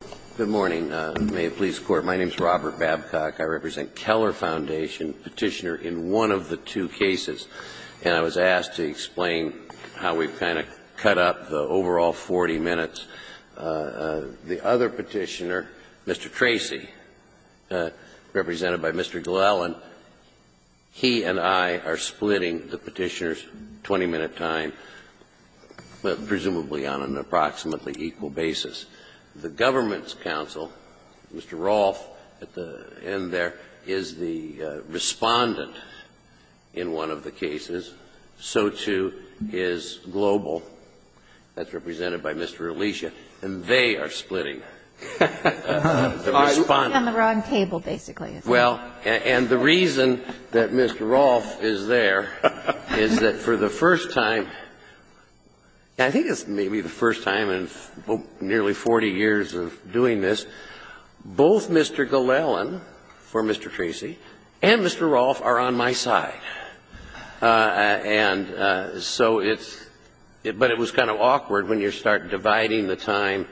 Robert Babcock Good morning. My name is Robert Babcock. I represent Keller Foundation, petitioner in one of the two cases. And I was asked to explain how we've kind of cut up the overall 40 minutes. The other petitioner, Mr. Tracy, represented by Mr. Glellen, he and I are splitting the petitioner's 20-minute time, presumably on an approximately equal basis. The government's counsel, Mr. Rolfe, at the end there, is the respondent in one of the cases. So, too, is Global. That's represented by Mr. Alicia. And they are splitting the respondent. And the reason that Mr. Rolfe is there is that for the first time, I think it's maybe the first time in nearly 40 years of doing this, both Mr. Glellen, for Mr. Tracy, and Mr. Rolfe are on my side. And so it's kind of awkward when you start dividing the time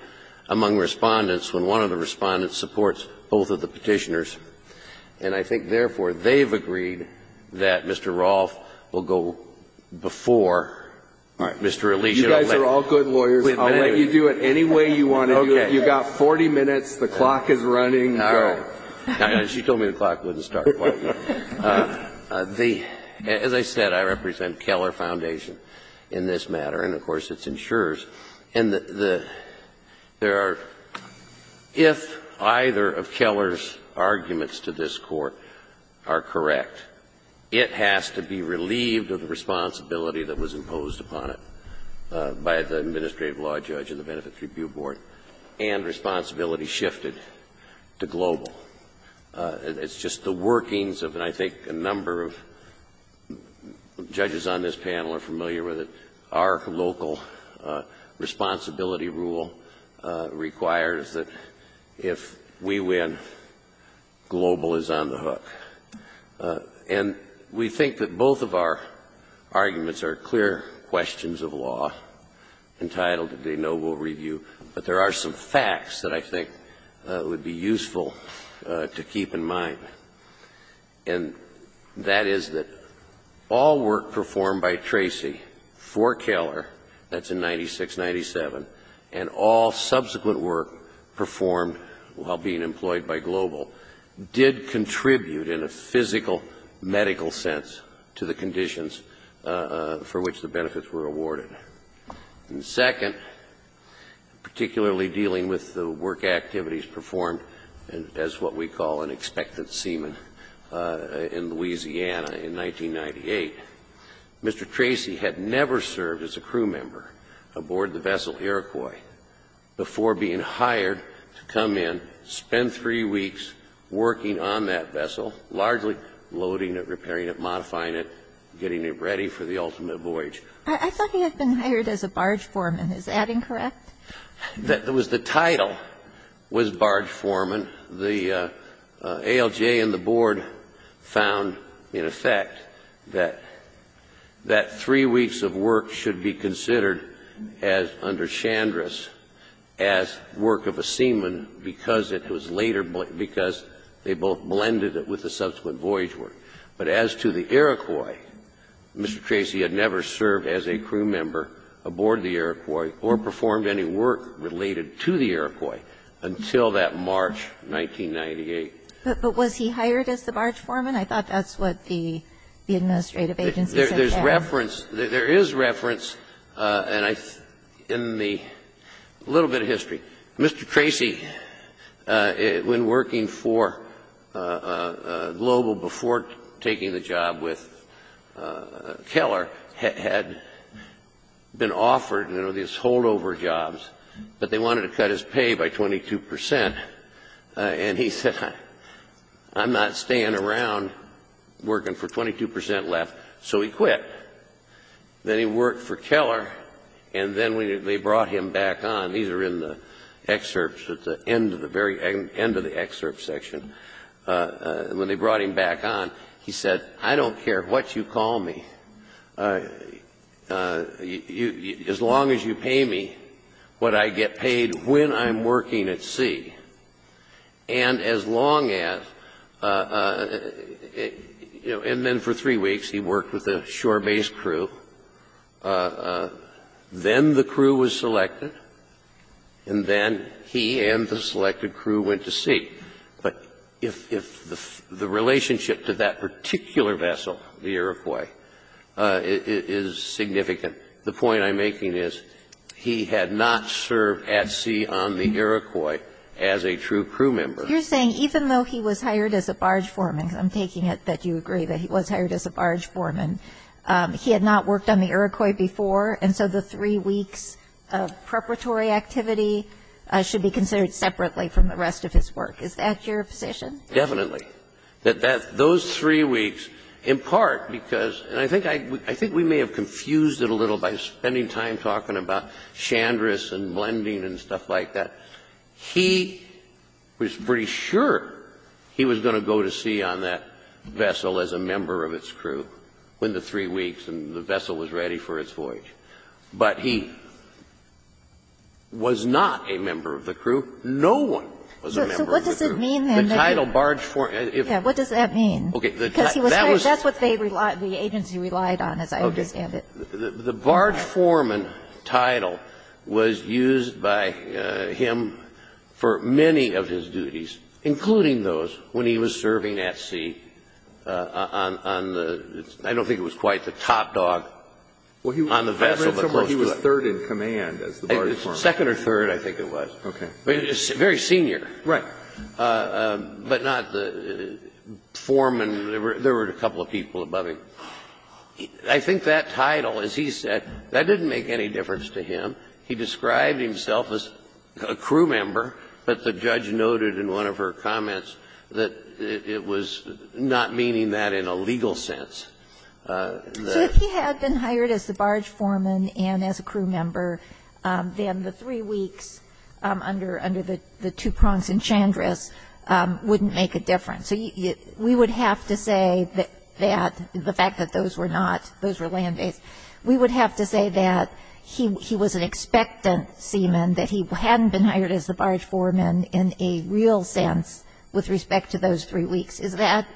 among respondents when one of the respondents supports both of the petitioners. And I think, therefore, they've agreed that Mr. Rolfe will go before Mr. Alicia. Breyer, you guys are all good lawyers. I'll let you do it any way you want to do it. You've got 40 minutes. The clock is running. Go. She told me the clock wouldn't start quite yet. As I said, I represent Keller Foundation in this matter, and, of course, it's insurers. And there are — if either of Keller's arguments to this Court are correct, it has to be relieved of the responsibility that was imposed upon it by the administrative law judge and the Benefits Review Board, and responsibility shifted to Global. It's just the workings of, and I think a number of judges on this panel are familiar with it, our local responsibility rule requires that if we win, Global is on the hook. And we think that both of our arguments are clear questions of law entitled to the noble review, but there are some facts that I think would be useful to keep in mind. And that is that all work performed by Tracy for Keller, that's in 96-97, and all subsequent work performed while being employed by Global did contribute, in a physical, medical sense, to the conditions for which the benefits were awarded. And second, particularly dealing with the work activities performed as what we call an expected seaman in Louisiana in 1998, Mr. Tracy had never served as a crew vessel, largely loading it, repairing it, modifying it, getting it ready for the ultimate voyage. I thought he had been hired as a barge foreman. Is that incorrect? The title was barge foreman. The ALJ and the Board found, in effect, that three weeks of work should be considered as, under Chandris, as work of a seaman because it was later, because they both blended it with the subsequent voyage work. But as to the Iroquois, Mr. Tracy had never served as a crew member aboard the Iroquois or performed any work related to the Iroquois until that March 1998. But was he hired as the barge foreman? I thought that's what the administrative agency said. There is reference in the little bit of history. Mr. Tracy, when working for Global before taking the job with Keller, had been offered, you know, these holdover jobs. But they wanted to cut his pay by 22 percent, and he said, I'm not staying around working for 22 percent left. So he quit. Then he worked for Keller, and then they brought him back on. These are in the excerpts at the end of the very end of the excerpt section. When they brought him back on, he said, I don't care what you call me. As long as you pay me what I get paid when I'm working at sea. And as long as, you know, and then for three weeks he worked with a shore base crew. Then the crew was selected, and then he and the selected crew went to sea. But if the relationship to that particular vessel, the Iroquois, is significant, the point I'm making is he had not served at sea on the Iroquois as a true crew member. You're saying even though he was hired as a barge foreman, because I'm taking it that you agree that he was hired as a barge foreman, he had not worked on the Iroquois before, and so the three weeks of preparatory activity should be considered separately from the rest of his work. Is that your position? Definitely. Those three weeks, in part because, and I think we may have confused it a little by spending time talking about Chandra's and blending and stuff like that. He was pretty sure he was going to go to sea on that vessel as a member of its crew when the three weeks and the vessel was ready for its voyage. But he was not a member of the crew. No one was a member of the crew. So what does it mean then? The title barge foreman. What does that mean? Because he was hired. That's what the agency relied on, as I understand it. The barge foreman title was used by him for many of his duties, including those when he was serving at sea on the, I don't think it was quite the top dog on the vessel. I read somewhere he was third in command as the barge foreman. Second or third, I think it was. Okay. Very senior. Right. But not the foreman. There were a couple of people above him. I think that title, as he said, that didn't make any difference to him. He described himself as a crew member, but the judge noted in one of her comments that it was not meaning that in a legal sense. So if he had been hired as the barge foreman and as a crew member, then the three weeks under the two prongs in Chandris wouldn't make a difference. So we would have to say that the fact that those were not, those were land days, we would have to say that he was an expectant seaman, that he hadn't been hired as the barge foreman in a real sense with respect to those Is that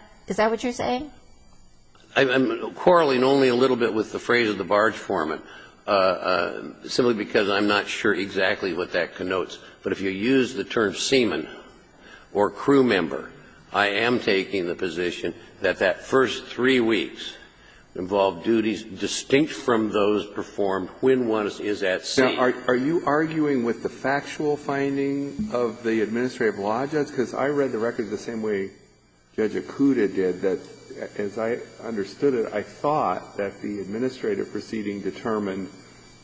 what you're saying? I'm quarreling only a little bit with the phrase of the barge foreman, simply because I'm not sure exactly what that connotes. But if you use the term seaman or crew member, I am taking the position that that first three weeks involved duties distinct from those performed when one is at sea. Now, are you arguing with the factual finding of the administrative law judge? Because I read the record the same way Judge Okuda did, that as I understood it, I thought that the administrative proceeding determined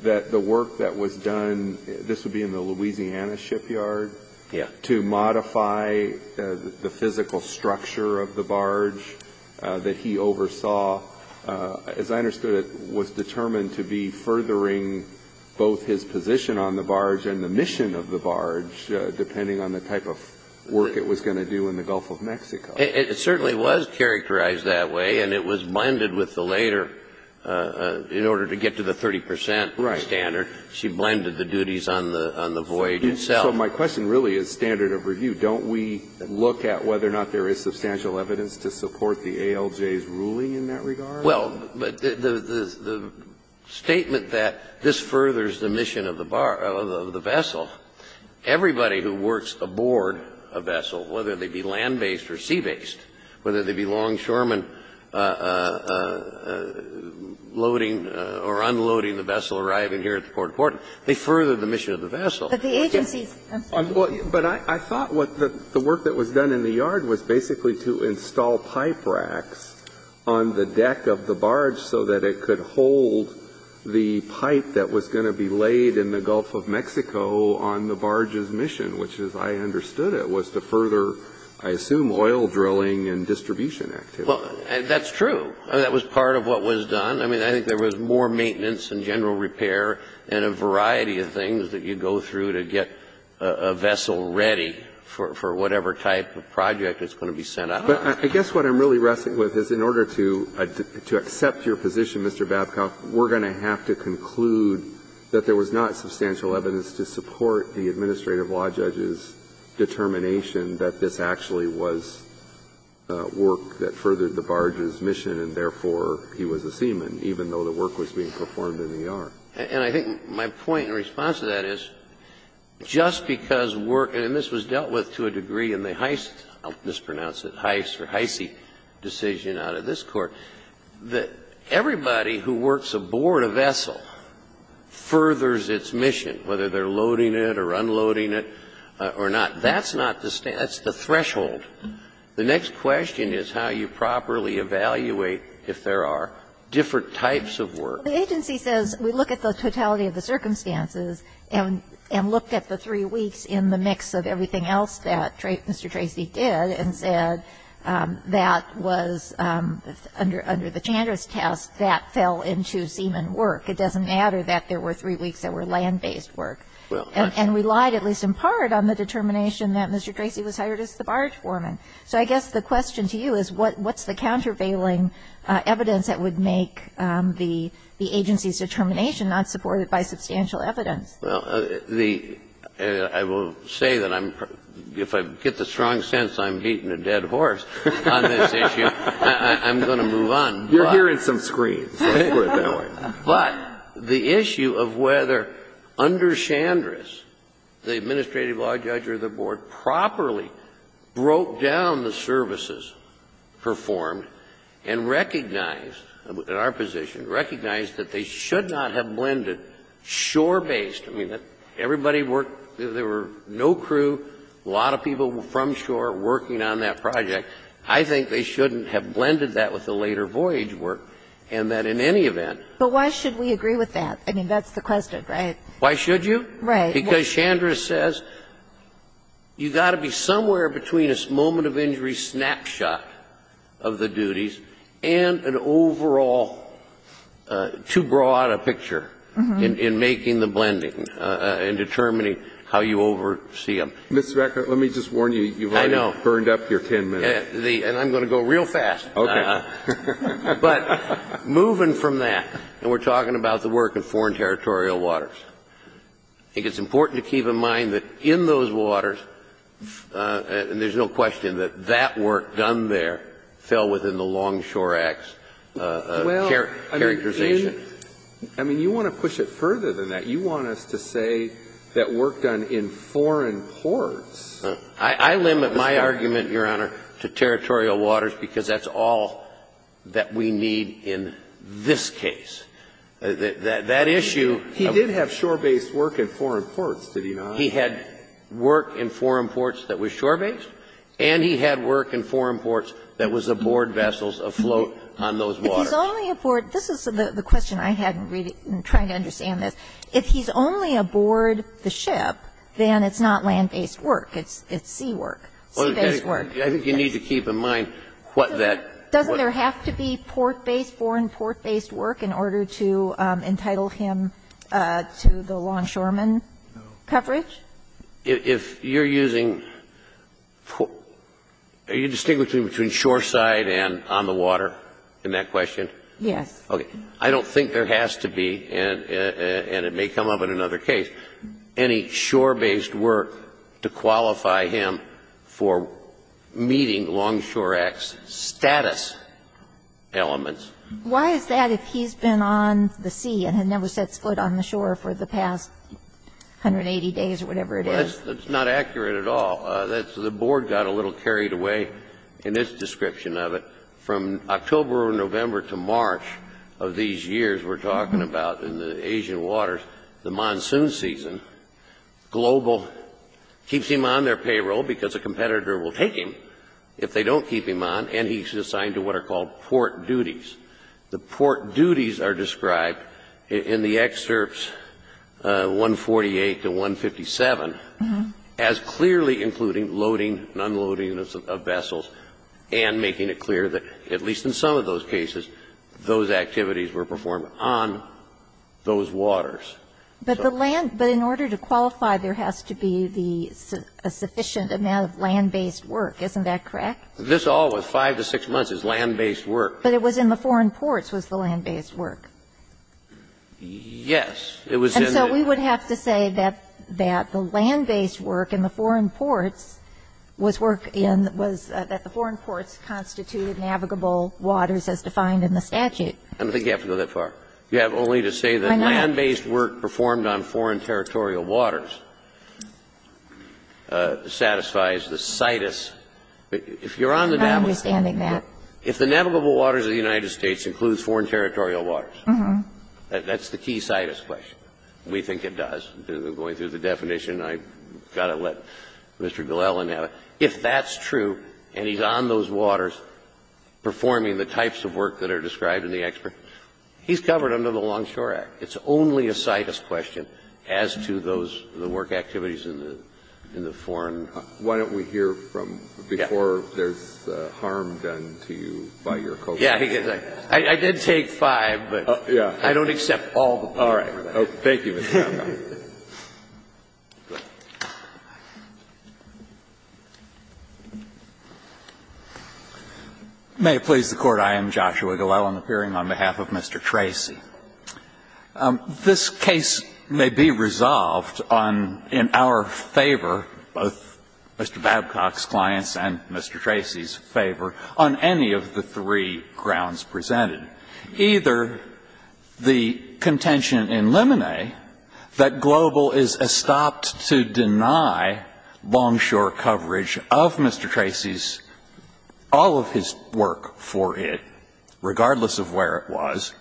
that the work that was done, this would be in the Louisiana shipyard, to modify the physical structure of the barge that he oversaw, as I understood it was determined to be furthering both his position on the barge and the mission of the barge, depending on the type of work it was going to do in the Gulf of Mexico. It certainly was characterized that way, and it was blended with the later, in order to get to the 30 percent standard, she blended the duties on the voyage itself. So my question really is standard of review. Don't we look at whether or not there is substantial evidence to support the ALJ's ruling in that regard? Well, but the statement that this furthers the mission of the barge, of the vessel, everybody who works aboard a vessel, whether they be land-based or sea-based, whether they be longshoremen loading or unloading the vessel arriving here at the port of Portland, they further the mission of the vessel. But the agency's answer is different. But I thought what the work that was done in the yard was basically to install pipe racks on the deck of the barge so that it could hold the pipe that was going to be laid in the Gulf of Mexico on the barge's mission, which, as I understood it, was to further, I assume, oil drilling and distribution activity. Well, that's true. That was part of what was done. I mean, I think there was more maintenance and general repair and a variety of things that you go through to get a vessel ready for whatever type of project it's going to be set up. But I guess what I'm really wrestling with is in order to accept your position, Mr. Babcock, we're going to have to conclude that there was not substantial evidence to support the administrative law judge's determination that this actually was work that furthered the barge's mission and therefore he was a seaman, even though the work was being performed in the yard. And I think my point in response to that is, just because work, and this was dealt with to a degree in the Heise, I'll mispronounce it, Heise or Heise decision out of this Court, that everybody who works aboard a vessel furthers its mission, whether they're loading it or unloading it or not. That's not the standard. That's the threshold. The next question is how you properly evaluate if there are different types of work. Well, the agency says we look at the totality of the circumstances and looked at the three weeks in the mix of everything else that Mr. Tracy did and said that was under the Chandra's test, that fell into seaman work. It doesn't matter that there were three weeks that were land-based work. And relied at least in part on the determination that Mr. Tracy was hired as the barge foreman. So I guess the question to you is what's the countervailing evidence that would make the agency's determination not supported by substantial evidence? Well, I will say that if I get the strong sense I'm beating a dead horse on this issue, I'm going to move on. You're hearing some screams. But the issue of whether under Chandra's, the administrative law judge or the board properly broke down the services performed and recognized, in our position, recognized that they should not have blended shore-based. I mean, everybody worked, there were no crew, a lot of people from shore working on that project. I think they shouldn't have blended that with the later voyage work and that in any event. But why should we agree with that? I mean, that's the question, right? Why should you? Right. Because Chandra says you've got to be somewhere between a moment of injury snapshot of the duties and an overall too broad a picture in making the blending and determining how you oversee them. Mr. Beckert, let me just warn you, you've already burned up your ten minutes. I know. And I'm going to go real fast. Okay. But moving from that, and we're talking about the work in foreign territorial waters, I think it's important to keep in mind that in those waters, and there's no question that that work done there fell within the Longshore Act's characterization. Well, I mean, you want to push it further than that. You want us to say that work done in foreign ports. I limit my argument, Your Honor, to territorial waters because that's all that we need in this case. That issue. He did have shore-based work in foreign ports, did he not? He had work in foreign ports that was shore-based and he had work in foreign ports that was aboard vessels afloat on those waters. If he's only aboard the ship, then it's not land-based work. It's sea work. Sea-based work. I think you need to keep in mind what that. Doesn't there have to be port-based, foreign port-based work in order to entitle him to the Longshoreman coverage? If you're using port. Are you distinguishing between shore-side and on the water in that question? Yes. Okay. I don't think there has to be, and it may come up in another case, any shore-based work to qualify him for meeting Longshore Act's status elements. Why is that if he's been on the sea and had never set foot on the shore for the past 180 days or whatever it is? Well, that's not accurate at all. The Board got a little carried away in its description of it. From October or November to March of these years we're talking about in the Asian waters, the monsoon season, Global keeps him on their payroll because a competitor will take him if they don't keep him on, and he's assigned to what are called port duties. The port duties are described in the excerpts 148 to 157 as clearly including loading and unloading of vessels and making it clear that at least in some of those cases those activities were performed on those waters. But the land – but in order to qualify, there has to be the – a sufficient amount of land-based work. Isn't that correct? This all was 5 to 6 months' land-based work. But it was in the foreign ports was the land-based work. Yes. It was in the – And so we would have to say that the land-based work in the foreign ports was work defined in the statute. I don't think you have to go that far. You have only to say that land-based work performed on foreign territorial waters satisfies the CITES. If you're on the navigable waters of the United States includes foreign territorial waters, that's the key CITES question. We think it does. Going through the definition, I've got to let Mr. Gillelan have it. If that's true and he's on those waters performing the types of work that are described in the expert – he's covered under the Longshore Act. It's only a CITES question as to those – the work activities in the foreign – Why don't we hear from – before there's harm done to you by your co-workers? Yes. I did take five, but I don't accept all the – All right. Thank you. May it please the Court. I am Joshua Gillelan, appearing on behalf of Mr. Tracy. This case may be resolved on – in our favor, both Mr. Babcock's clients' and Mr. Tracy's favor, on any of the three grounds presented. Either the contention in Lemonet that Global is estopped to deny Longshore coverage of Mr. Tracy's – all of his work for it, regardless of where it was,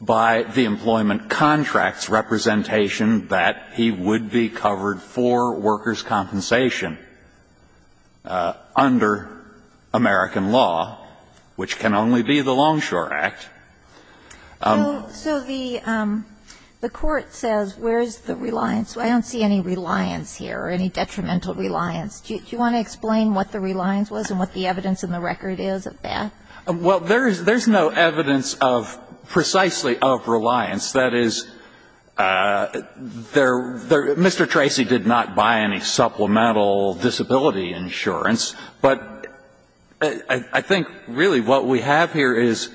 by the employment contracts representation that he would be covered for workers' compensation under American law, which can only be the Longshore Act. So the court says where's the reliance? I don't see any reliance here or any detrimental reliance. Do you want to explain what the reliance was and what the evidence in the record is of that? Well, there's no evidence of – precisely of reliance. That is, there – Mr. Tracy did not buy any supplemental disability insurance, but I think really what we have here is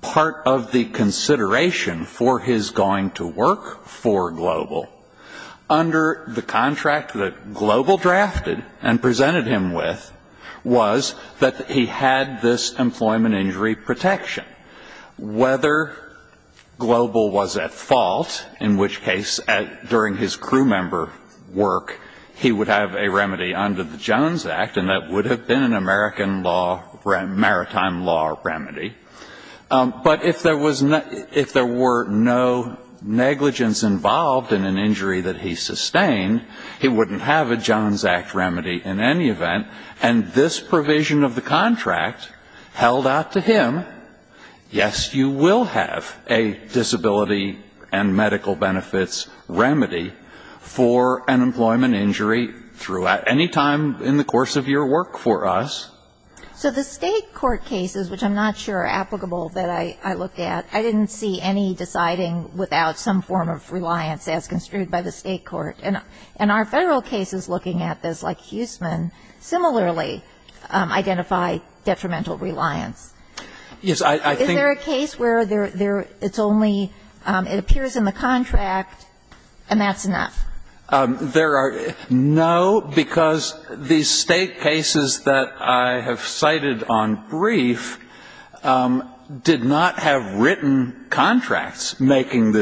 part of the consideration for his going to work for Global under the contract that Global drafted and presented him with was that he had this employment injury protection. Whether Global was at fault, in which case, during his crew member work, he would have a remedy under the Jones Act, and that would have been an American law – maritime law remedy. But if there was – if there were no negligence involved in an injury that he sustained, he wouldn't have a Jones Act remedy in any event. And this provision of the contract held out to him, yes, you will have a disability and medical benefits remedy for an employment injury throughout – any time in the course of your work for us. So the State court cases, which I'm not sure are applicable that I looked at, I didn't see any deciding without some form of reliance as construed by the State court. And our Federal cases looking at this, like Huseman, similarly identify detrimental reliance. Is there a case where there – it's only – it appears in the contract and that's enough? There are – no, because the State cases that I have cited on brief did not have They did not have a reliance. And I don't know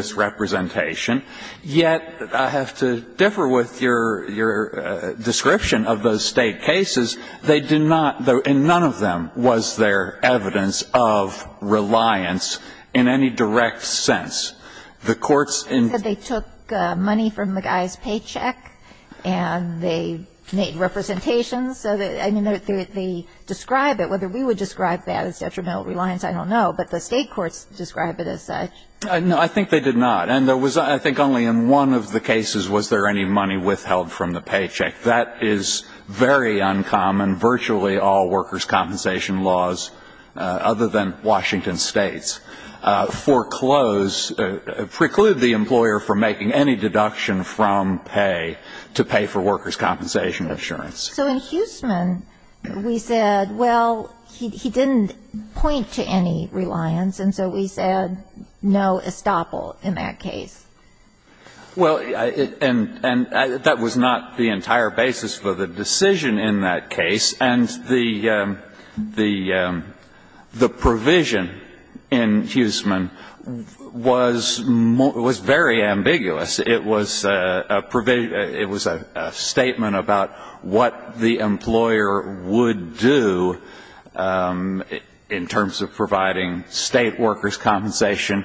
if it would differ with your description of those State cases. They did not – and none of them was there evidence of reliance in any direct sense. The courts in – But they took money from the guy's paycheck and they made representations so that – I mean, they describe it. Whether we would describe that as detrimental reliance, I don't know. But the State courts describe it as such. No, I think they did not. And there was – I think only in one of the cases was there any money withheld from the paycheck. That is very uncommon. Virtually all workers' compensation laws, other than Washington State's, foreclose – preclude the employer from making any deduction from pay to pay for workers' compensation insurance. So in Huseman, we said, well, he didn't point to any reliance, and so we said no estoppel in that case. Well, and that was not the entire basis for the decision in that case. And the provision in Huseman was very ambiguous. It was a – it was a statement about what the employer would do in terms of providing State workers' compensation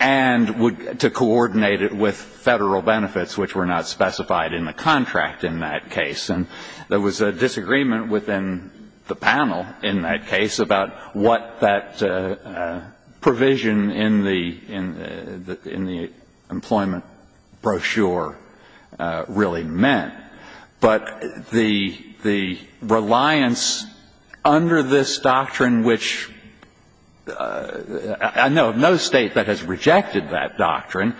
and would – to coordinate it with Federal benefits, which were not specified in the contract in that case. And there was a disagreement within the panel in that case about what that provision in the – in the employment brochure really meant. But the reliance under this doctrine, which – I know of no State that has rejected that doctrine.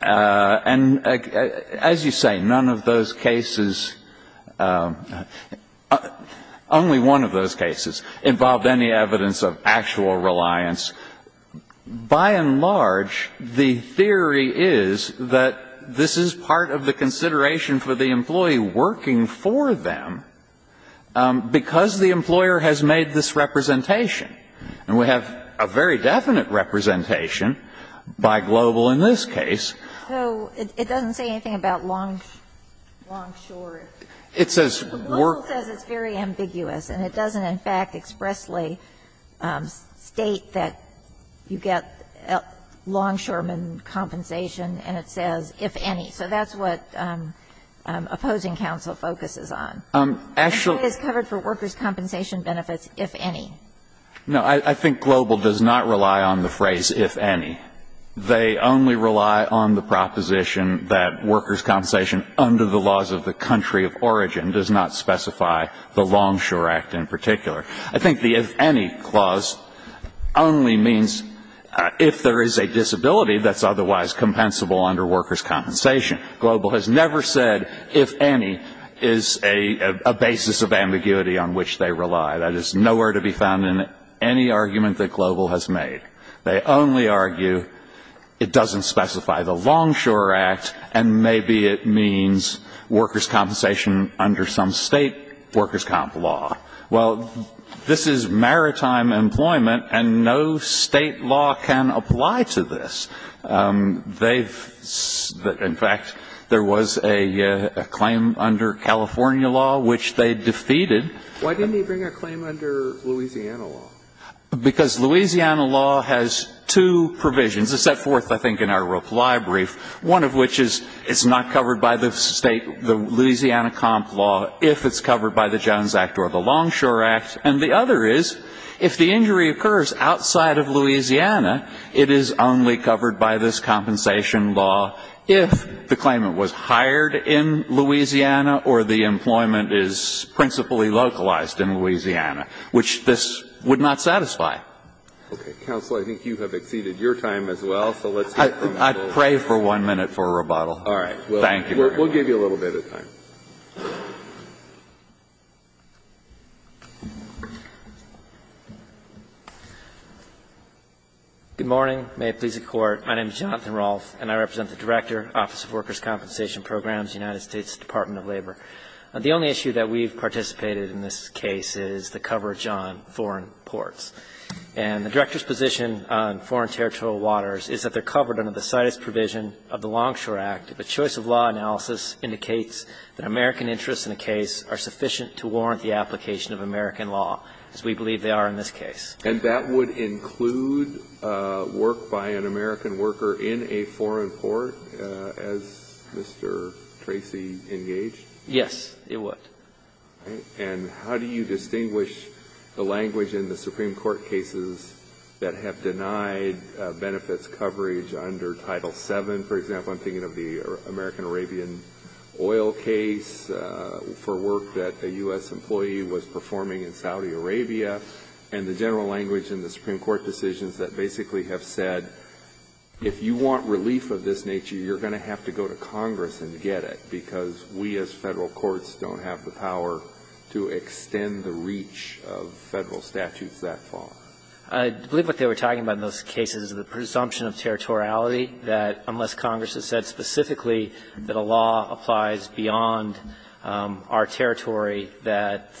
And as you say, none of those cases – only one of those cases involved any evidence of actual reliance. By and large, the theory is that this is part of the consideration for the employee working for them because the employer has made this representation. And we have a very definite representation by Global in this case. So it doesn't say anything about long – long, short. It says work. It still says it's very ambiguous, and it doesn't, in fact, expressly state that you get longshoreman compensation, and it says, if any. So that's what opposing counsel focuses on. And that is covered for workers' compensation benefits, if any. No. I think Global does not rely on the phrase, if any. They only rely on the proposition that workers' compensation under the laws of the origin does not specify the longshore act in particular. I think the if any clause only means if there is a disability that's otherwise compensable under workers' compensation. Global has never said if any is a basis of ambiguity on which they rely. That is nowhere to be found in any argument that Global has made. They only argue it doesn't specify the longshore act, and maybe it means workers' compensation under some state workers' comp law. Well, this is maritime employment, and no state law can apply to this. They've – in fact, there was a claim under California law which they defeated. Why didn't he bring a claim under Louisiana law? Because Louisiana law has two provisions. It's set forth, I think, in our reply brief, one of which is it's not covered by the state – the Louisiana comp law if it's covered by the Jones Act or the Longshore Act, and the other is if the injury occurs outside of Louisiana, it is only covered by this compensation law if the claimant was hired in Louisiana or the employment is principally localized in Louisiana, which this would not satisfy. Okay. Counsel, I think you have exceeded your time as well, so let's move on. I'd pray for one minute for a rebuttal. All right. Thank you. We'll give you a little bit of time. Good morning. May it please the Court. My name is Jonathan Rolfe, and I represent the Director, Office of Workers' Compensation Programs, United States Department of Labor. The only issue that we've participated in this case is the coverage on foreign ports. And the Director's position on foreign territorial waters is that they're covered under the CITES provision of the Longshore Act. The choice of law analysis indicates that American interests in a case are sufficient to warrant the application of American law, as we believe they are in this case. And that would include work by an American worker in a foreign port, as Mr. Tracy engaged? Yes, it would. All right. And how do you distinguish the language in the Supreme Court cases that have denied benefits coverage under Title VII? For example, I'm thinking of the American Arabian oil case for work that a U.S. employee was performing in Saudi Arabia. And the general language in the Supreme Court decisions that basically have said, if you want relief of this nature, you're going to have to go to Congress and get it, because we as Federal courts don't have the power to extend the reach of Federal statutes that far. I believe what they were talking about in those cases is the presumption of territoriality, that unless Congress has said specifically that a law applies beyond our territory, that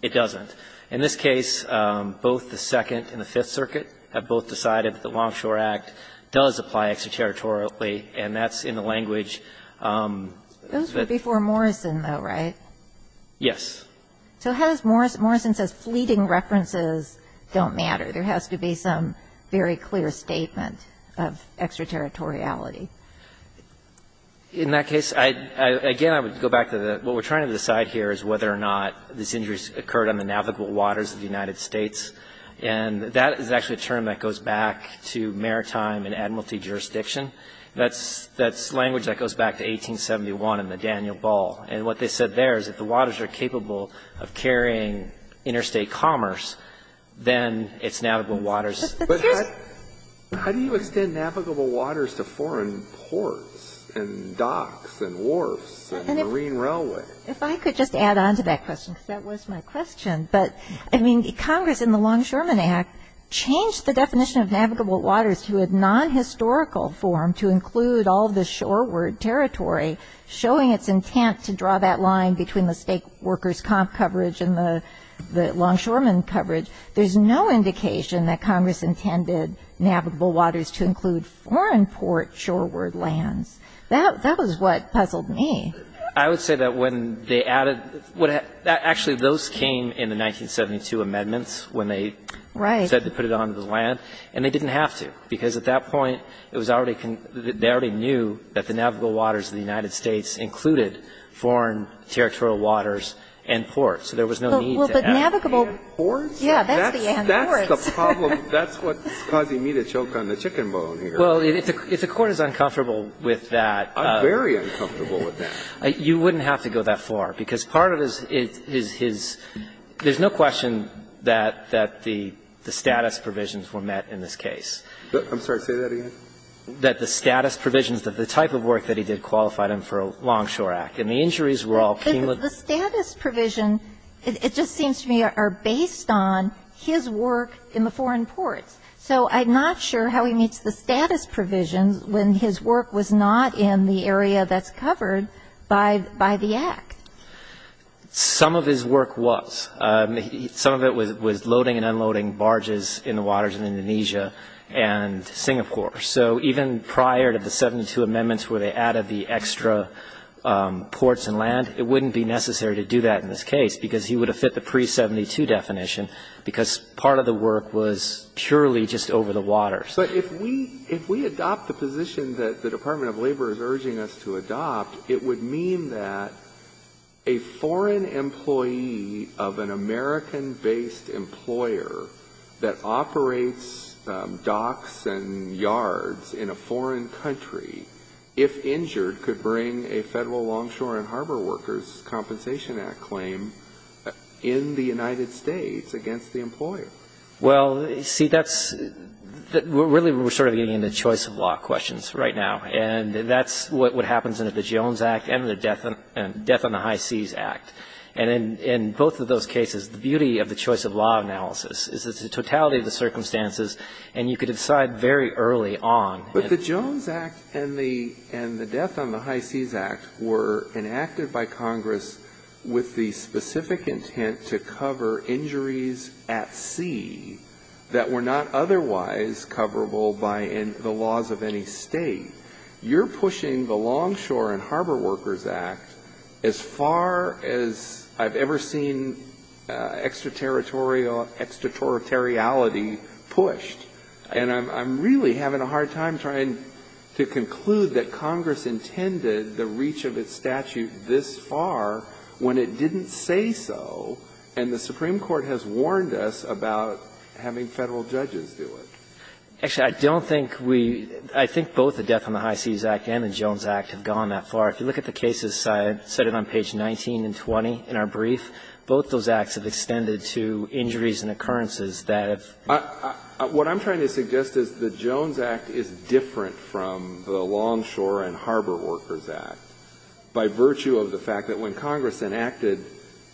it doesn't. In this case, both the Second and the Fifth Circuit have both decided that the Longshore Act does apply extraterritorially, and that's in the language that ---- Those were before Morrison, though, right? Yes. So has ---- Morrison says fleeting references don't matter. There has to be some very clear statement of extraterritoriality. In that case, again, I would go back to the ---- what we're trying to decide here is whether or not this injury occurred on the navigable waters of the United States. And that is actually a term that goes back to maritime and admiralty jurisdiction. That's language that goes back to 1871 in the Daniel Ball. And what they said there is if the waters are capable of carrying interstate commerce, then it's navigable waters. But here's ---- How do you extend navigable waters to foreign ports and docks and wharfs and marine railway? If I could just add on to that question, because that was my question. But, I mean, Congress in the Longshoreman Act changed the definition of navigable waters to a nonhistorical form to include all of the shoreward territory, showing its intent to draw that line between the state workers' comp coverage and the longshoreman coverage. There's no indication that Congress intended navigable waters to include foreign port shoreward lands. That was what puzzled me. I would say that when they added ---- actually, those came in the 1972 amendments when they ---- Right. ---- said to put it on the land. And they didn't have to, because at that point, it was already ---- they already knew that the navigable waters of the United States included foreign territorial waters and ports. So there was no need to add ---- Well, but navigable ---- And ports? Yeah, that's the and ports. That's the problem. That's what's causing me to choke on the chicken bone here. Well, if the Court is uncomfortable with that ---- I'm very uncomfortable with that. You wouldn't have to go that far, because part of his ---- there's no question that the status provisions were met in this case. I'm sorry. Say that again. That the status provisions of the type of work that he did qualified him for a Long Shore Act. And the injuries were all ---- The status provision, it just seems to me, are based on his work in the foreign ports. So I'm not sure how he meets the status provisions when his work was not in the area that's covered by the Act. Some of his work was. Some of it was loading and unloading barges in the waters in Indonesia and Singapore. So even prior to the 72 amendments where they added the extra ports and land, it wouldn't be necessary to do that in this case, because he would have fit the pre-72 definition, because part of the work was purely just over the waters. But if we adopt the position that the Department of Labor is urging us to adopt, it would mean that a foreign employee of an American-based employer that operates docks and yards in a foreign country, if injured, could bring a Federal Long Shore and Harbor Workers' Compensation Act claim in the United States against the employer. Well, see, that's ---- really we're sort of getting into choice of law questions right now, and that's what happens under the Jones Act and the Death on the High Seas Act. And in both of those cases, the beauty of the choice of law analysis is it's the totality of the circumstances, and you could decide very early on. But the Jones Act and the Death on the High Seas Act were enacted by Congress with the specific intent to cover injuries at sea that were not otherwise coverable by the laws of any State. You're pushing the Long Shore and Harbor Workers' Act as far as I've ever seen extraterritorial extraterritoriality pushed. And I'm really having a hard time trying to conclude that Congress intended the reach of its statute this far when it didn't say so, and the Supreme Court has warned us about having Federal judges do it. Actually, I don't think we ---- I think both the Death on the High Seas Act and the Jones Act have gone that far. If you look at the cases cited on page 19 and 20 in our brief, both those acts have extended to injuries and occurrences that have ---- What I'm trying to suggest is the Jones Act is different from the Long Shore and Harbor Workers' Act by virtue of the fact that when Congress enacted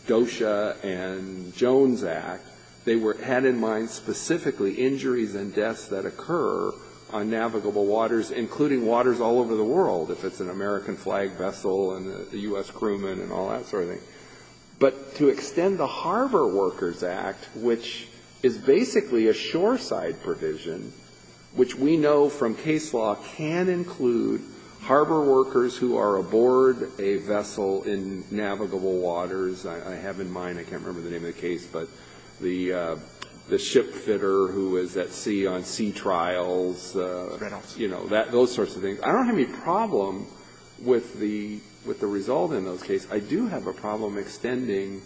DOSHA and Jones Act, they were ---- had in mind specifically injuries and deaths that occur on navigable waters, including waters all over the world, if it's an American flag vessel and a U.S. crewman and all that sort of thing. But to extend the Harbor Workers' Act, which is basically a shoreside provision, which we know from case law can include harbor workers who are aboard a vessel in navigable waters, I have in mind, I can't remember the name of the case, but the ship fitter who is at sea on sea trials, you know, that ---- those sorts of things. I don't have any problem with the result in those cases. I do have a problem extending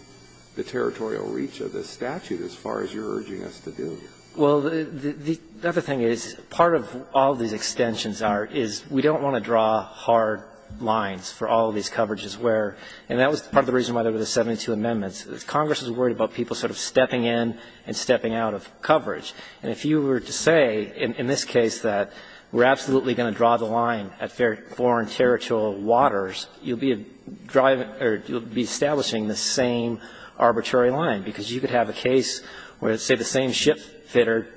the territorial reach of this statute as far as you're urging us to do. Well, the other thing is, part of all these extensions are, is we don't want to draw hard lines for all of these coverages where ---- and that was part of the reason why there were the 72 amendments. Congress was worried about people sort of stepping in and stepping out of coverage. And if you were to say in this case that we're absolutely going to draw the line at foreign territorial waters, you'll be driving or you'll be establishing the same arbitrary line, because you could have a case where, say, the same ship fitter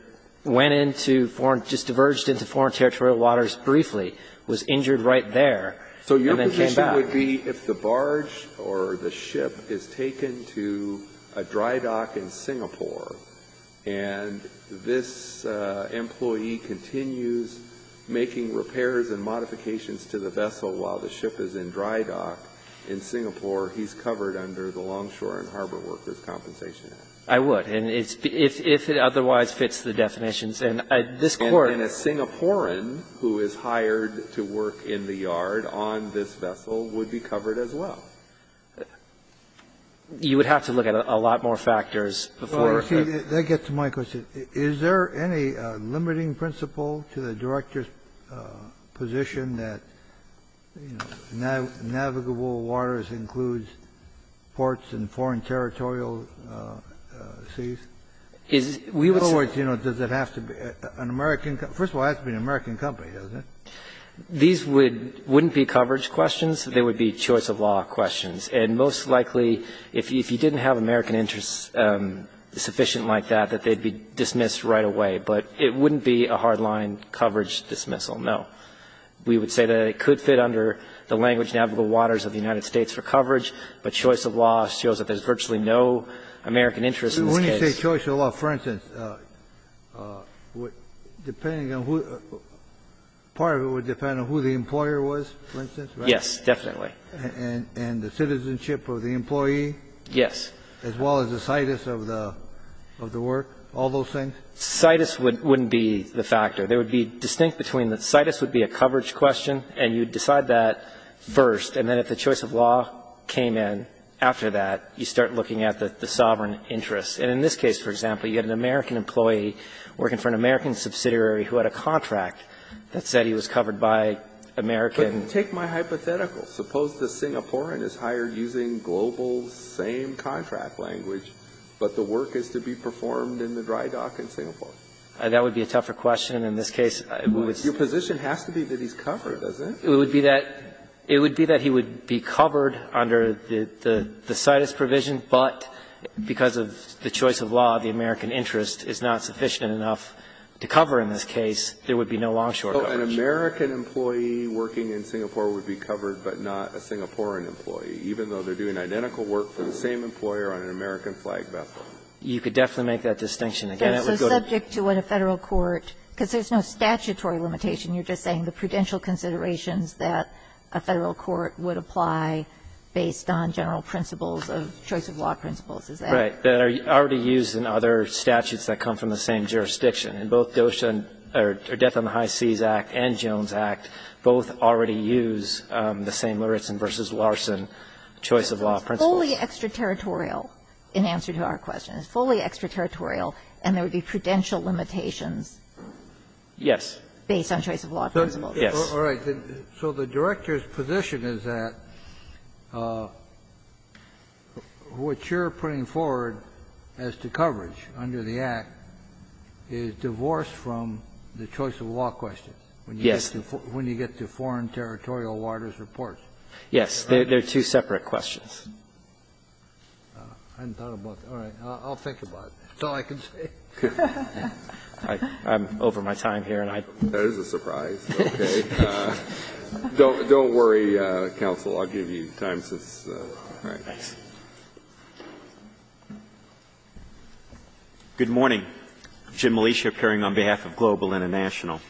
went into foreign ---- just diverged into foreign territorial waters briefly, was injured right there, and then came back. So your position would be if the barge or the ship is taken to a dry dock in Singapore and this employee continues making repairs and modifications to the vessel while the ship is in dry dock in Singapore, he's covered under the Longshore and Harbor Workers' Compensation Act? And it's be ---- if it otherwise fits the definitions. And this Court ---- And a Singaporean who is hired to work in the yard on this vessel would be covered as well? You would have to look at a lot more factors before you're ---- Well, you see, that gets to my question. Is there any limiting principle to the Director's position that, you know, navigable waters includes ports in foreign territorial seas? We would say ---- In other words, you know, does it have to be an American ---- first of all, it has to be an American company, doesn't it? These would ---- wouldn't be coverage questions. They would be choice-of-law questions. And most likely, if you didn't have American interests sufficient like that, that they'd be dismissed right away. But it wouldn't be a hard-line coverage dismissal, no. We would say that it could fit under the language navigable waters of the United States for coverage, but choice-of-law shows that there's virtually no American interest in this case. When you say choice-of-law, for instance, depending on who ---- part of it would depend on who the employer was, for instance, right? Yes, definitely. And the citizenship of the employee? Yes. As well as the situs of the work, all those things? Situs wouldn't be the factor. They would be distinct between the situs would be a coverage question, and you'd decide that first, and then if the choice-of-law came in after that, you'd start looking at the sovereign interests. And in this case, for example, you had an American employee working for an American subsidiary who had a contract that said he was covered by American ---- But take my hypothetical. Suppose the Singaporean is hired using global same-contract language, but the work is to be performed in the dry dock in Singapore. That would be a tougher question in this case. Your position has to be that he's covered, doesn't it? It would be that he would be covered under the situs provision, but because of the choice-of-law, the American interest is not sufficient enough to cover in this case, there would be no long-short coverage. An American employee working in Singapore would be covered, but not a Singaporean employee, even though they're doing identical work for the same employer on an American flag vessel. You could definitely make that distinction. Again, it would go to ---- But it's subject to what a Federal court ---- because there's no statutory limitation. You're just saying the prudential considerations that a Federal court would apply based on general principles of choice-of-law principles. Is that ---- Right. That are already used in other statutes that come from the same jurisdiction. And both DOSHA and ---- or Death on the High Seas Act and Jones Act both already use the same Lauritsen v. Larson choice-of-law principles. It's fully extraterritorial in answer to our question. It's fully extraterritorial, and there would be prudential limitations based on choice-of-law principles. Yes. All right. So the Director's position is that what you're putting forward as to coverage under the Act is divorced from the choice-of-law questions when you get to foreign territorial waters reports. Yes. They're two separate questions. I haven't thought about that. All right. I'll think about it. That's all I can say. I'm over my time here, and I'd ---- That is a surprise. Okay. Don't worry, counsel. I'll give you time since ---- All right. Thanks. Good morning. Jim Melicia appearing on behalf of Global International.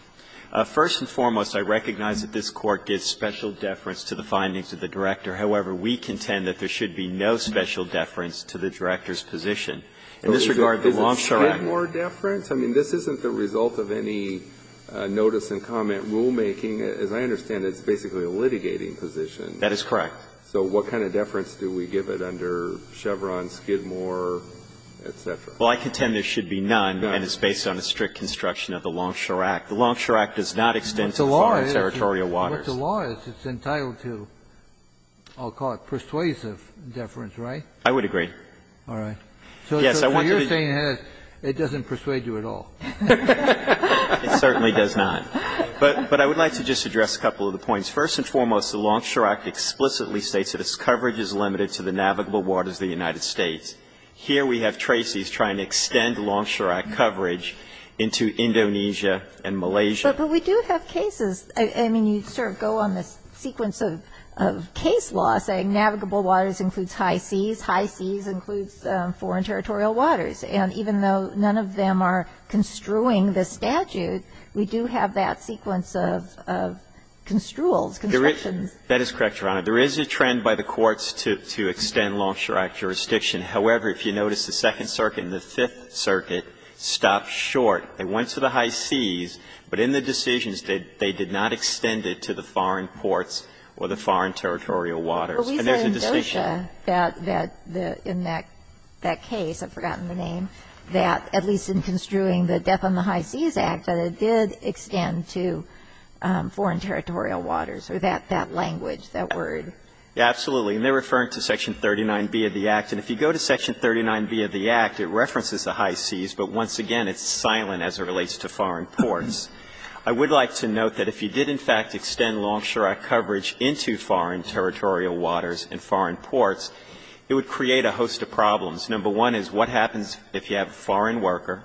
First and foremost, I recognize that this Court gives special deference to the findings of the Director. However, we contend that there should be no special deference to the Director's position. In this regard, the Longshore Act ---- Is it Skidmore deference? I mean, this isn't the result of any notice and comment rulemaking. As I understand it, it's basically a litigating position. That is correct. So what kind of deference do we give it under Chevron, Skidmore, et cetera? Well, I contend there should be none, and it's based on a strict construction of the Longshore Act. The Longshore Act does not extend to foreign territorial waters. But the law is, it's entitled to, I'll call it persuasive deference, right? I would agree. All right. So what you're saying is it doesn't persuade you at all. It certainly does not. But I would like to just address a couple of the points. First and foremost, the Longshore Act explicitly states that its coverage is limited to the navigable waters of the United States. Here we have Tracy's trying to extend Longshore Act coverage into Indonesia and Malaysia. But we do have cases. I mean, you sort of go on this sequence of case law saying navigable waters includes high seas, high seas includes foreign territorial waters. And even though none of them are construing the statute, we do have that sequence of construals, constructions. That is correct, Your Honor. There is a trend by the courts to extend Longshore Act jurisdiction. However, if you notice, the Second Circuit and the Fifth Circuit stopped short. They went to the high seas, but in the decisions, they did not extend it to the foreign ports or the foreign territorial waters. And there's a distinction. But we said in DOJA that in that case, I've forgotten the name, that at least in construing the Death on the High Seas Act, that it did extend to foreign territorial waters or that language, that word. Absolutely. And they're referring to Section 39B of the Act. And if you go to Section 39B of the Act, it references the high seas, but once again, it's silent as it relates to foreign ports. I would like to note that if you did in fact extend Longshore Act coverage into foreign territorial waters and foreign ports, it would create a host of problems. Number one is what happens if you have a foreign worker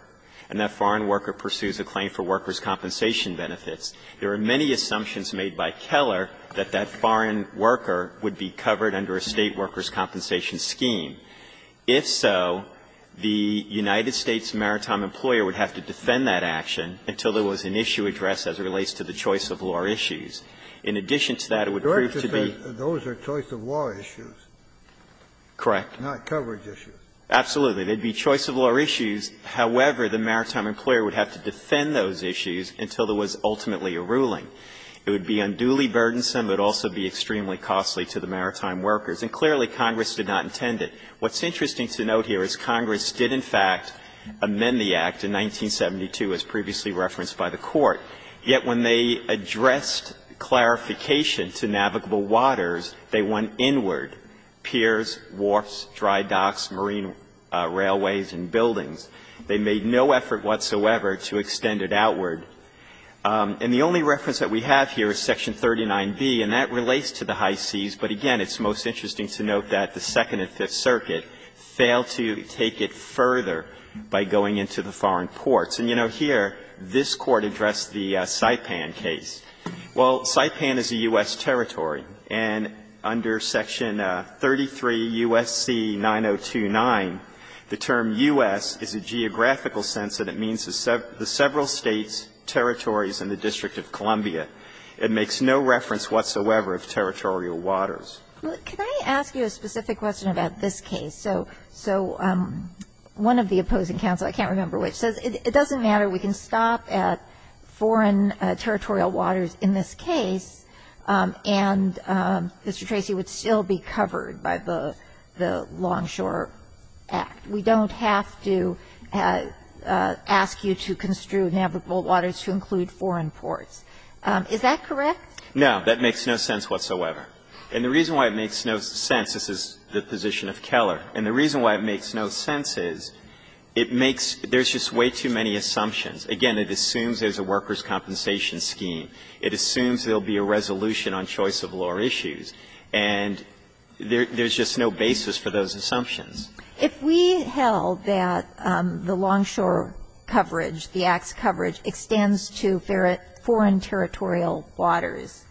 and that foreign worker pursues a claim for workers' compensation benefits? There are many assumptions made by Keller that that foreign worker would be covered under a State workers' compensation scheme. If so, the United States maritime employer would have to defend that action until there was an issue addressed as it relates to the choice-of-law issues. In addition to that, it would prove to be the case that those are choice-of-law issues. Correct. Not coverage issues. Absolutely. They'd be choice-of-law issues. However, the maritime employer would have to defend those issues until there was ultimately a ruling. It would be unduly burdensome, but also be extremely costly to the maritime workers. And clearly, Congress did not intend it. What's interesting to note here is Congress did in fact amend the Act in 1972, as previously referenced by the Court. Yet when they addressed clarification to navigable waters, they went inward. Piers, wharfs, dry docks, marine railways and buildings. They made no effort whatsoever to extend it outward. And the only reference that we have here is section 39B, and that relates to the high It's interesting to note that the Second and Fifth Circuit failed to take it further by going into the foreign ports. And, you know, here, this Court addressed the Saipan case. Well, Saipan is a U.S. territory, and under section 33 U.S.C. 9029, the term U.S. is a geographical sense, and it means the several states, territories in the District of Columbia. It makes no reference whatsoever of territorial waters. Well, can I ask you a specific question about this case? So one of the opposing counsel, I can't remember which, says it doesn't matter. We can stop at foreign territorial waters in this case, and Mr. Tracy, it would still be covered by the Longshore Act. We don't have to ask you to construe navigable waters to include foreign ports. Is that correct? No. That makes no sense whatsoever. And the reason why it makes no sense, this is the position of Keller. And the reason why it makes no sense is it makes — there's just way too many assumptions. Again, it assumes there's a workers' compensation scheme. It assumes there will be a resolution on choice of law issues. And there's just no basis for those assumptions. If we held that the Longshore coverage, the Act's coverage, extends to foreign territorial waters,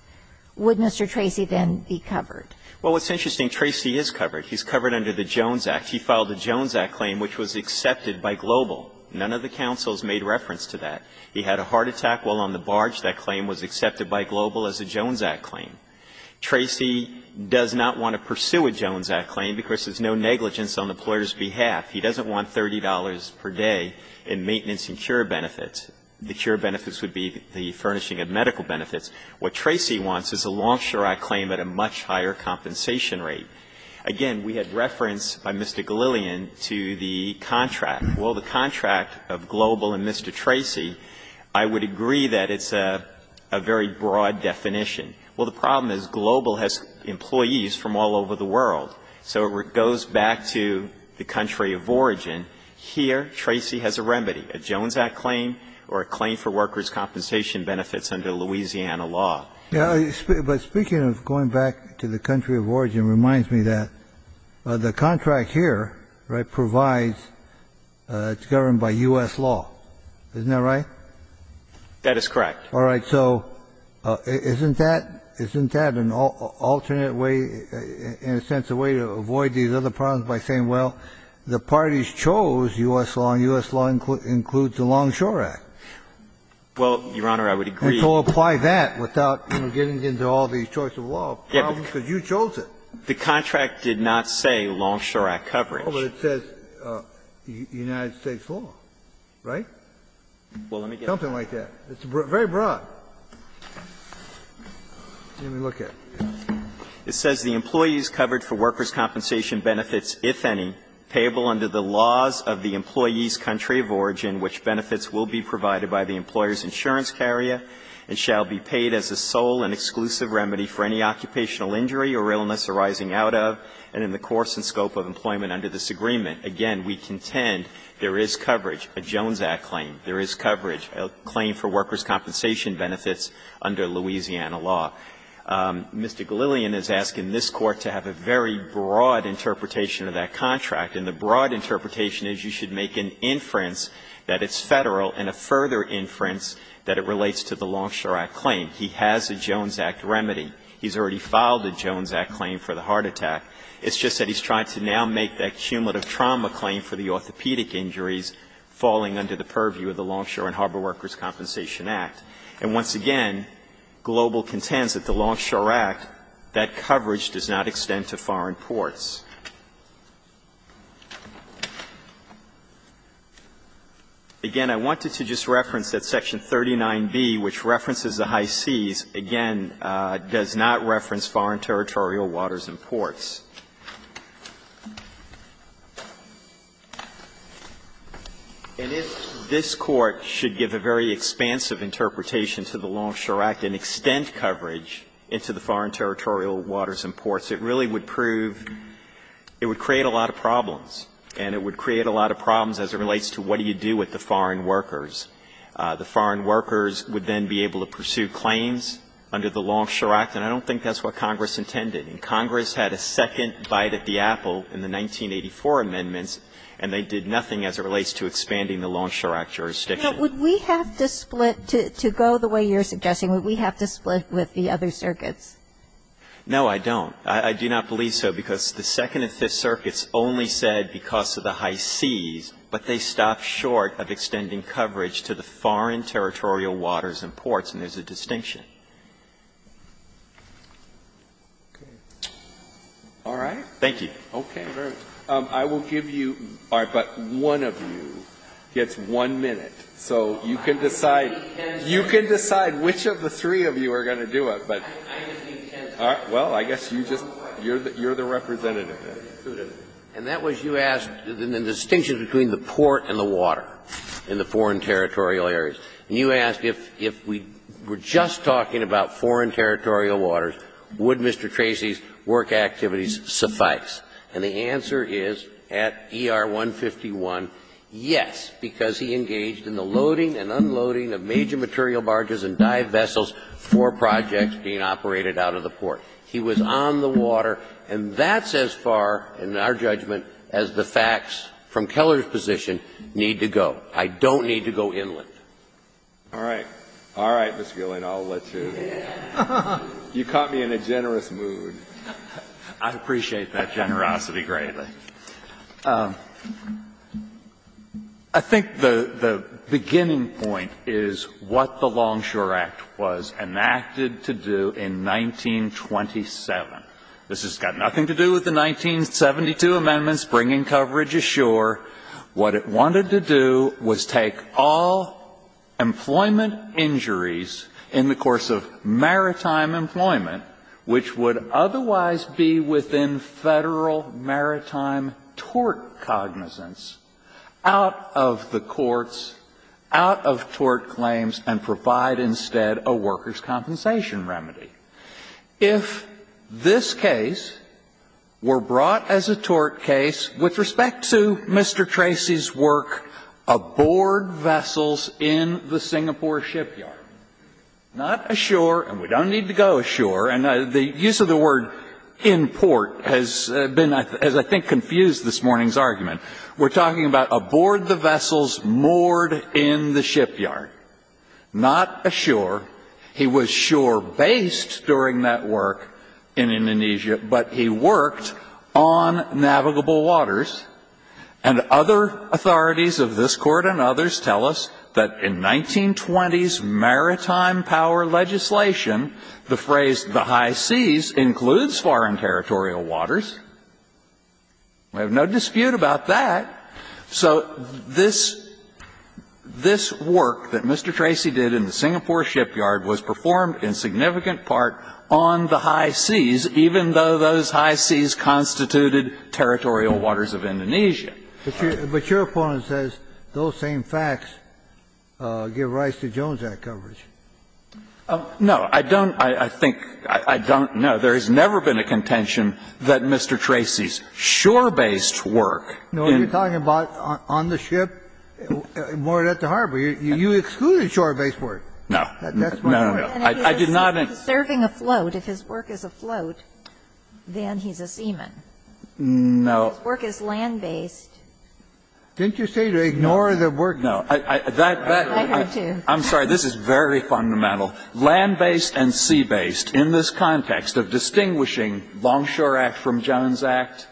would Mr. Tracy then be covered? Well, what's interesting, Tracy is covered. He's covered under the Jones Act. He filed a Jones Act claim which was accepted by Global. None of the counsels made reference to that. He had a heart attack while on the barge. That claim was accepted by Global as a Jones Act claim. Tracy does not want to pursue a Jones Act claim because there's no negligence on the employer's behalf. He doesn't want $30 per day in maintenance and cure benefits. The cure benefits would be the furnishing of medical benefits. What Tracy wants is a Longshore Act claim at a much higher compensation rate. Again, we had reference by Mr. Galillion to the contract. Well, the contract of Global and Mr. Tracy, I would agree that it's a very broad definition. Well, the problem is Global has employees from all over the world. So it goes back to the country of origin. Here, Tracy has a remedy, a Jones Act claim or a claim for workers' compensation benefits under Louisiana law. But speaking of going back to the country of origin reminds me that the contract here, right, provides, it's governed by U.S. law. Isn't that right? That is correct. All right. So isn't that an alternate way, in a sense, a way to avoid these other problems by saying, well, the parties chose U.S. law and U.S. law includes the Longshore Act? Well, Your Honor, I would agree. And so apply that without, you know, getting into all these choice of law problems because you chose it. The contract did not say Longshore Act coverage. Well, but it says United States law, right? Well, let me get that. Something like that. It's very broad. Let me look at it. It says, ''The employee's coverage for workers' compensation benefits, if any, payable under the laws of the employee's country of origin, which benefits will be provided by the employer's insurance carrier and shall be paid as a sole and exclusive remedy for any occupational injury or illness arising out of and in the course and scope of employment under this agreement.'' Again, we contend there is coverage, a Jones Act claim. There is coverage. A claim for workers' compensation benefits under Louisiana law. Mr. Galilean is asking this Court to have a very broad interpretation of that contract. And the broad interpretation is you should make an inference that it's Federal and a further inference that it relates to the Longshore Act claim. He has a Jones Act remedy. He's already filed a Jones Act claim for the heart attack. It's just that he's trying to now make that cumulative trauma claim for the orthopedic injuries falling under the purview of the Longshore and Harbor Workers' Compensation Act. And once again, Global contends that the Longshore Act, that coverage does not extend to foreign ports. Again, I wanted to just reference that section 39B, which references the high seas. Again, does not reference foreign territorial waters and ports. And if this Court should give a very expansive interpretation to the Longshore Act and extend coverage into the foreign territorial waters and ports, it really would prove � it would create a lot of problems. And it would create a lot of problems as it relates to what do you do with the foreign workers. The foreign workers would then be able to pursue claims under the Longshore Act, and I don't think that's what Congress intended. And Congress had a second bite at the apple in the 1984 amendments, and they did nothing as it relates to expanding the Longshore Act jurisdiction. But would we have to split, to go the way you're suggesting, would we have to split with the other circuits? No, I don't. Because the Second and Fifth Circuits only said because of the high seas, but they stopped short of extending coverage to the foreign territorial waters and ports, and there's a distinction. All right. Thank you. I will give you � but one of you gets one minute. So you can decide. You can decide which of the three of you are going to do it. Well, I guess you just � you're the representative. And that was you asked the distinction between the port and the water in the foreign territorial areas. And you asked if we were just talking about foreign territorial waters, would Mr. Tracy's work activities suffice? And the answer is, at E.R.C. it would suffice. And the answer is, at E.R.C., yes, because he engaged in the loading and unloading of major material barges and dive vessels for projects being operated out of the port. And that's as far, in our judgment, as the facts from Keller's position need to go. I don't need to go inland. All right. All right, Mr. Gillen, I'll let you. You caught me in a generous mood. I appreciate that generosity greatly. I think the beginning point is what the Longshore Act was enacted to do in 1927. This has got nothing to do with the 1972 amendments bringing coverage ashore. What it wanted to do was take all employment injuries in the course of maritime employment, which would otherwise be within Federal maritime tort cognizance, out of the courts, out of tort claims, and provide instead a workers' compensation remedy. If this case were brought as a tort case with respect to Mr. Tracy's work aboard vessels in the Singapore shipyard, not ashore, and we don't need to go ashore. And the use of the word in port has been, as I think, confused this morning's argument. We're talking about aboard the vessels moored in the shipyard, not ashore. He was shore-based during that work in Indonesia, but he worked on navigable waters. And other authorities of this Court and others tell us that in 1920s maritime power legislation, the phrase, the high seas, includes foreign territorial waters. We have no dispute about that. So this work that Mr. Tracy did in the Singapore shipyard was performed in significant part on the high seas, even though those high seas constituted territorial waters of Indonesia. But your opponent says those same facts give rise to Jones Act coverage. No, I don't, I think, I don't know. There has never been a contention that Mr. Tracy's shore-based work in the Singapore shipyard is not on the ship moored at the harbor. You excluded shore-based work. No, no, no, no. I did not. And if he's serving afloat, if his work is afloat, then he's a seaman. No. If his work is land-based. Didn't you say to ignore the word? No, that, that, I'm sorry, this is very fundamental. Land-based and sea-based, in this context of distinguishing Longshore Act from Jones Act,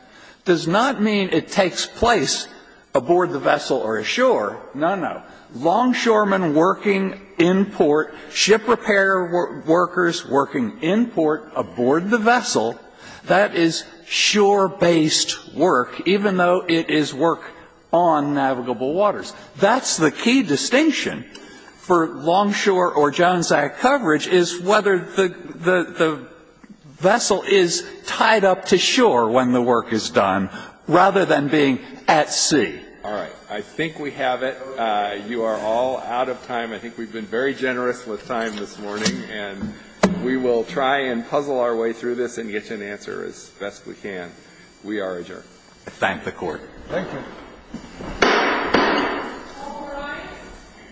does not mean it takes place aboard the vessel or ashore. No, no. Longshoremen working in port, ship repair workers working in port, aboard the vessel, that is shore-based work, even though it is work on navigable waters. That's the key distinction for Longshore or Jones Act coverage, is whether the, the, the vessel is tied up to shore when the work is done, rather than being at sea. All right. I think we have it. You are all out of time. I think we've been very generous with time this morning, and we will try and puzzle our way through this and get you an answer as best we can. We are adjourned. I thank the Court. Thank you. All rise.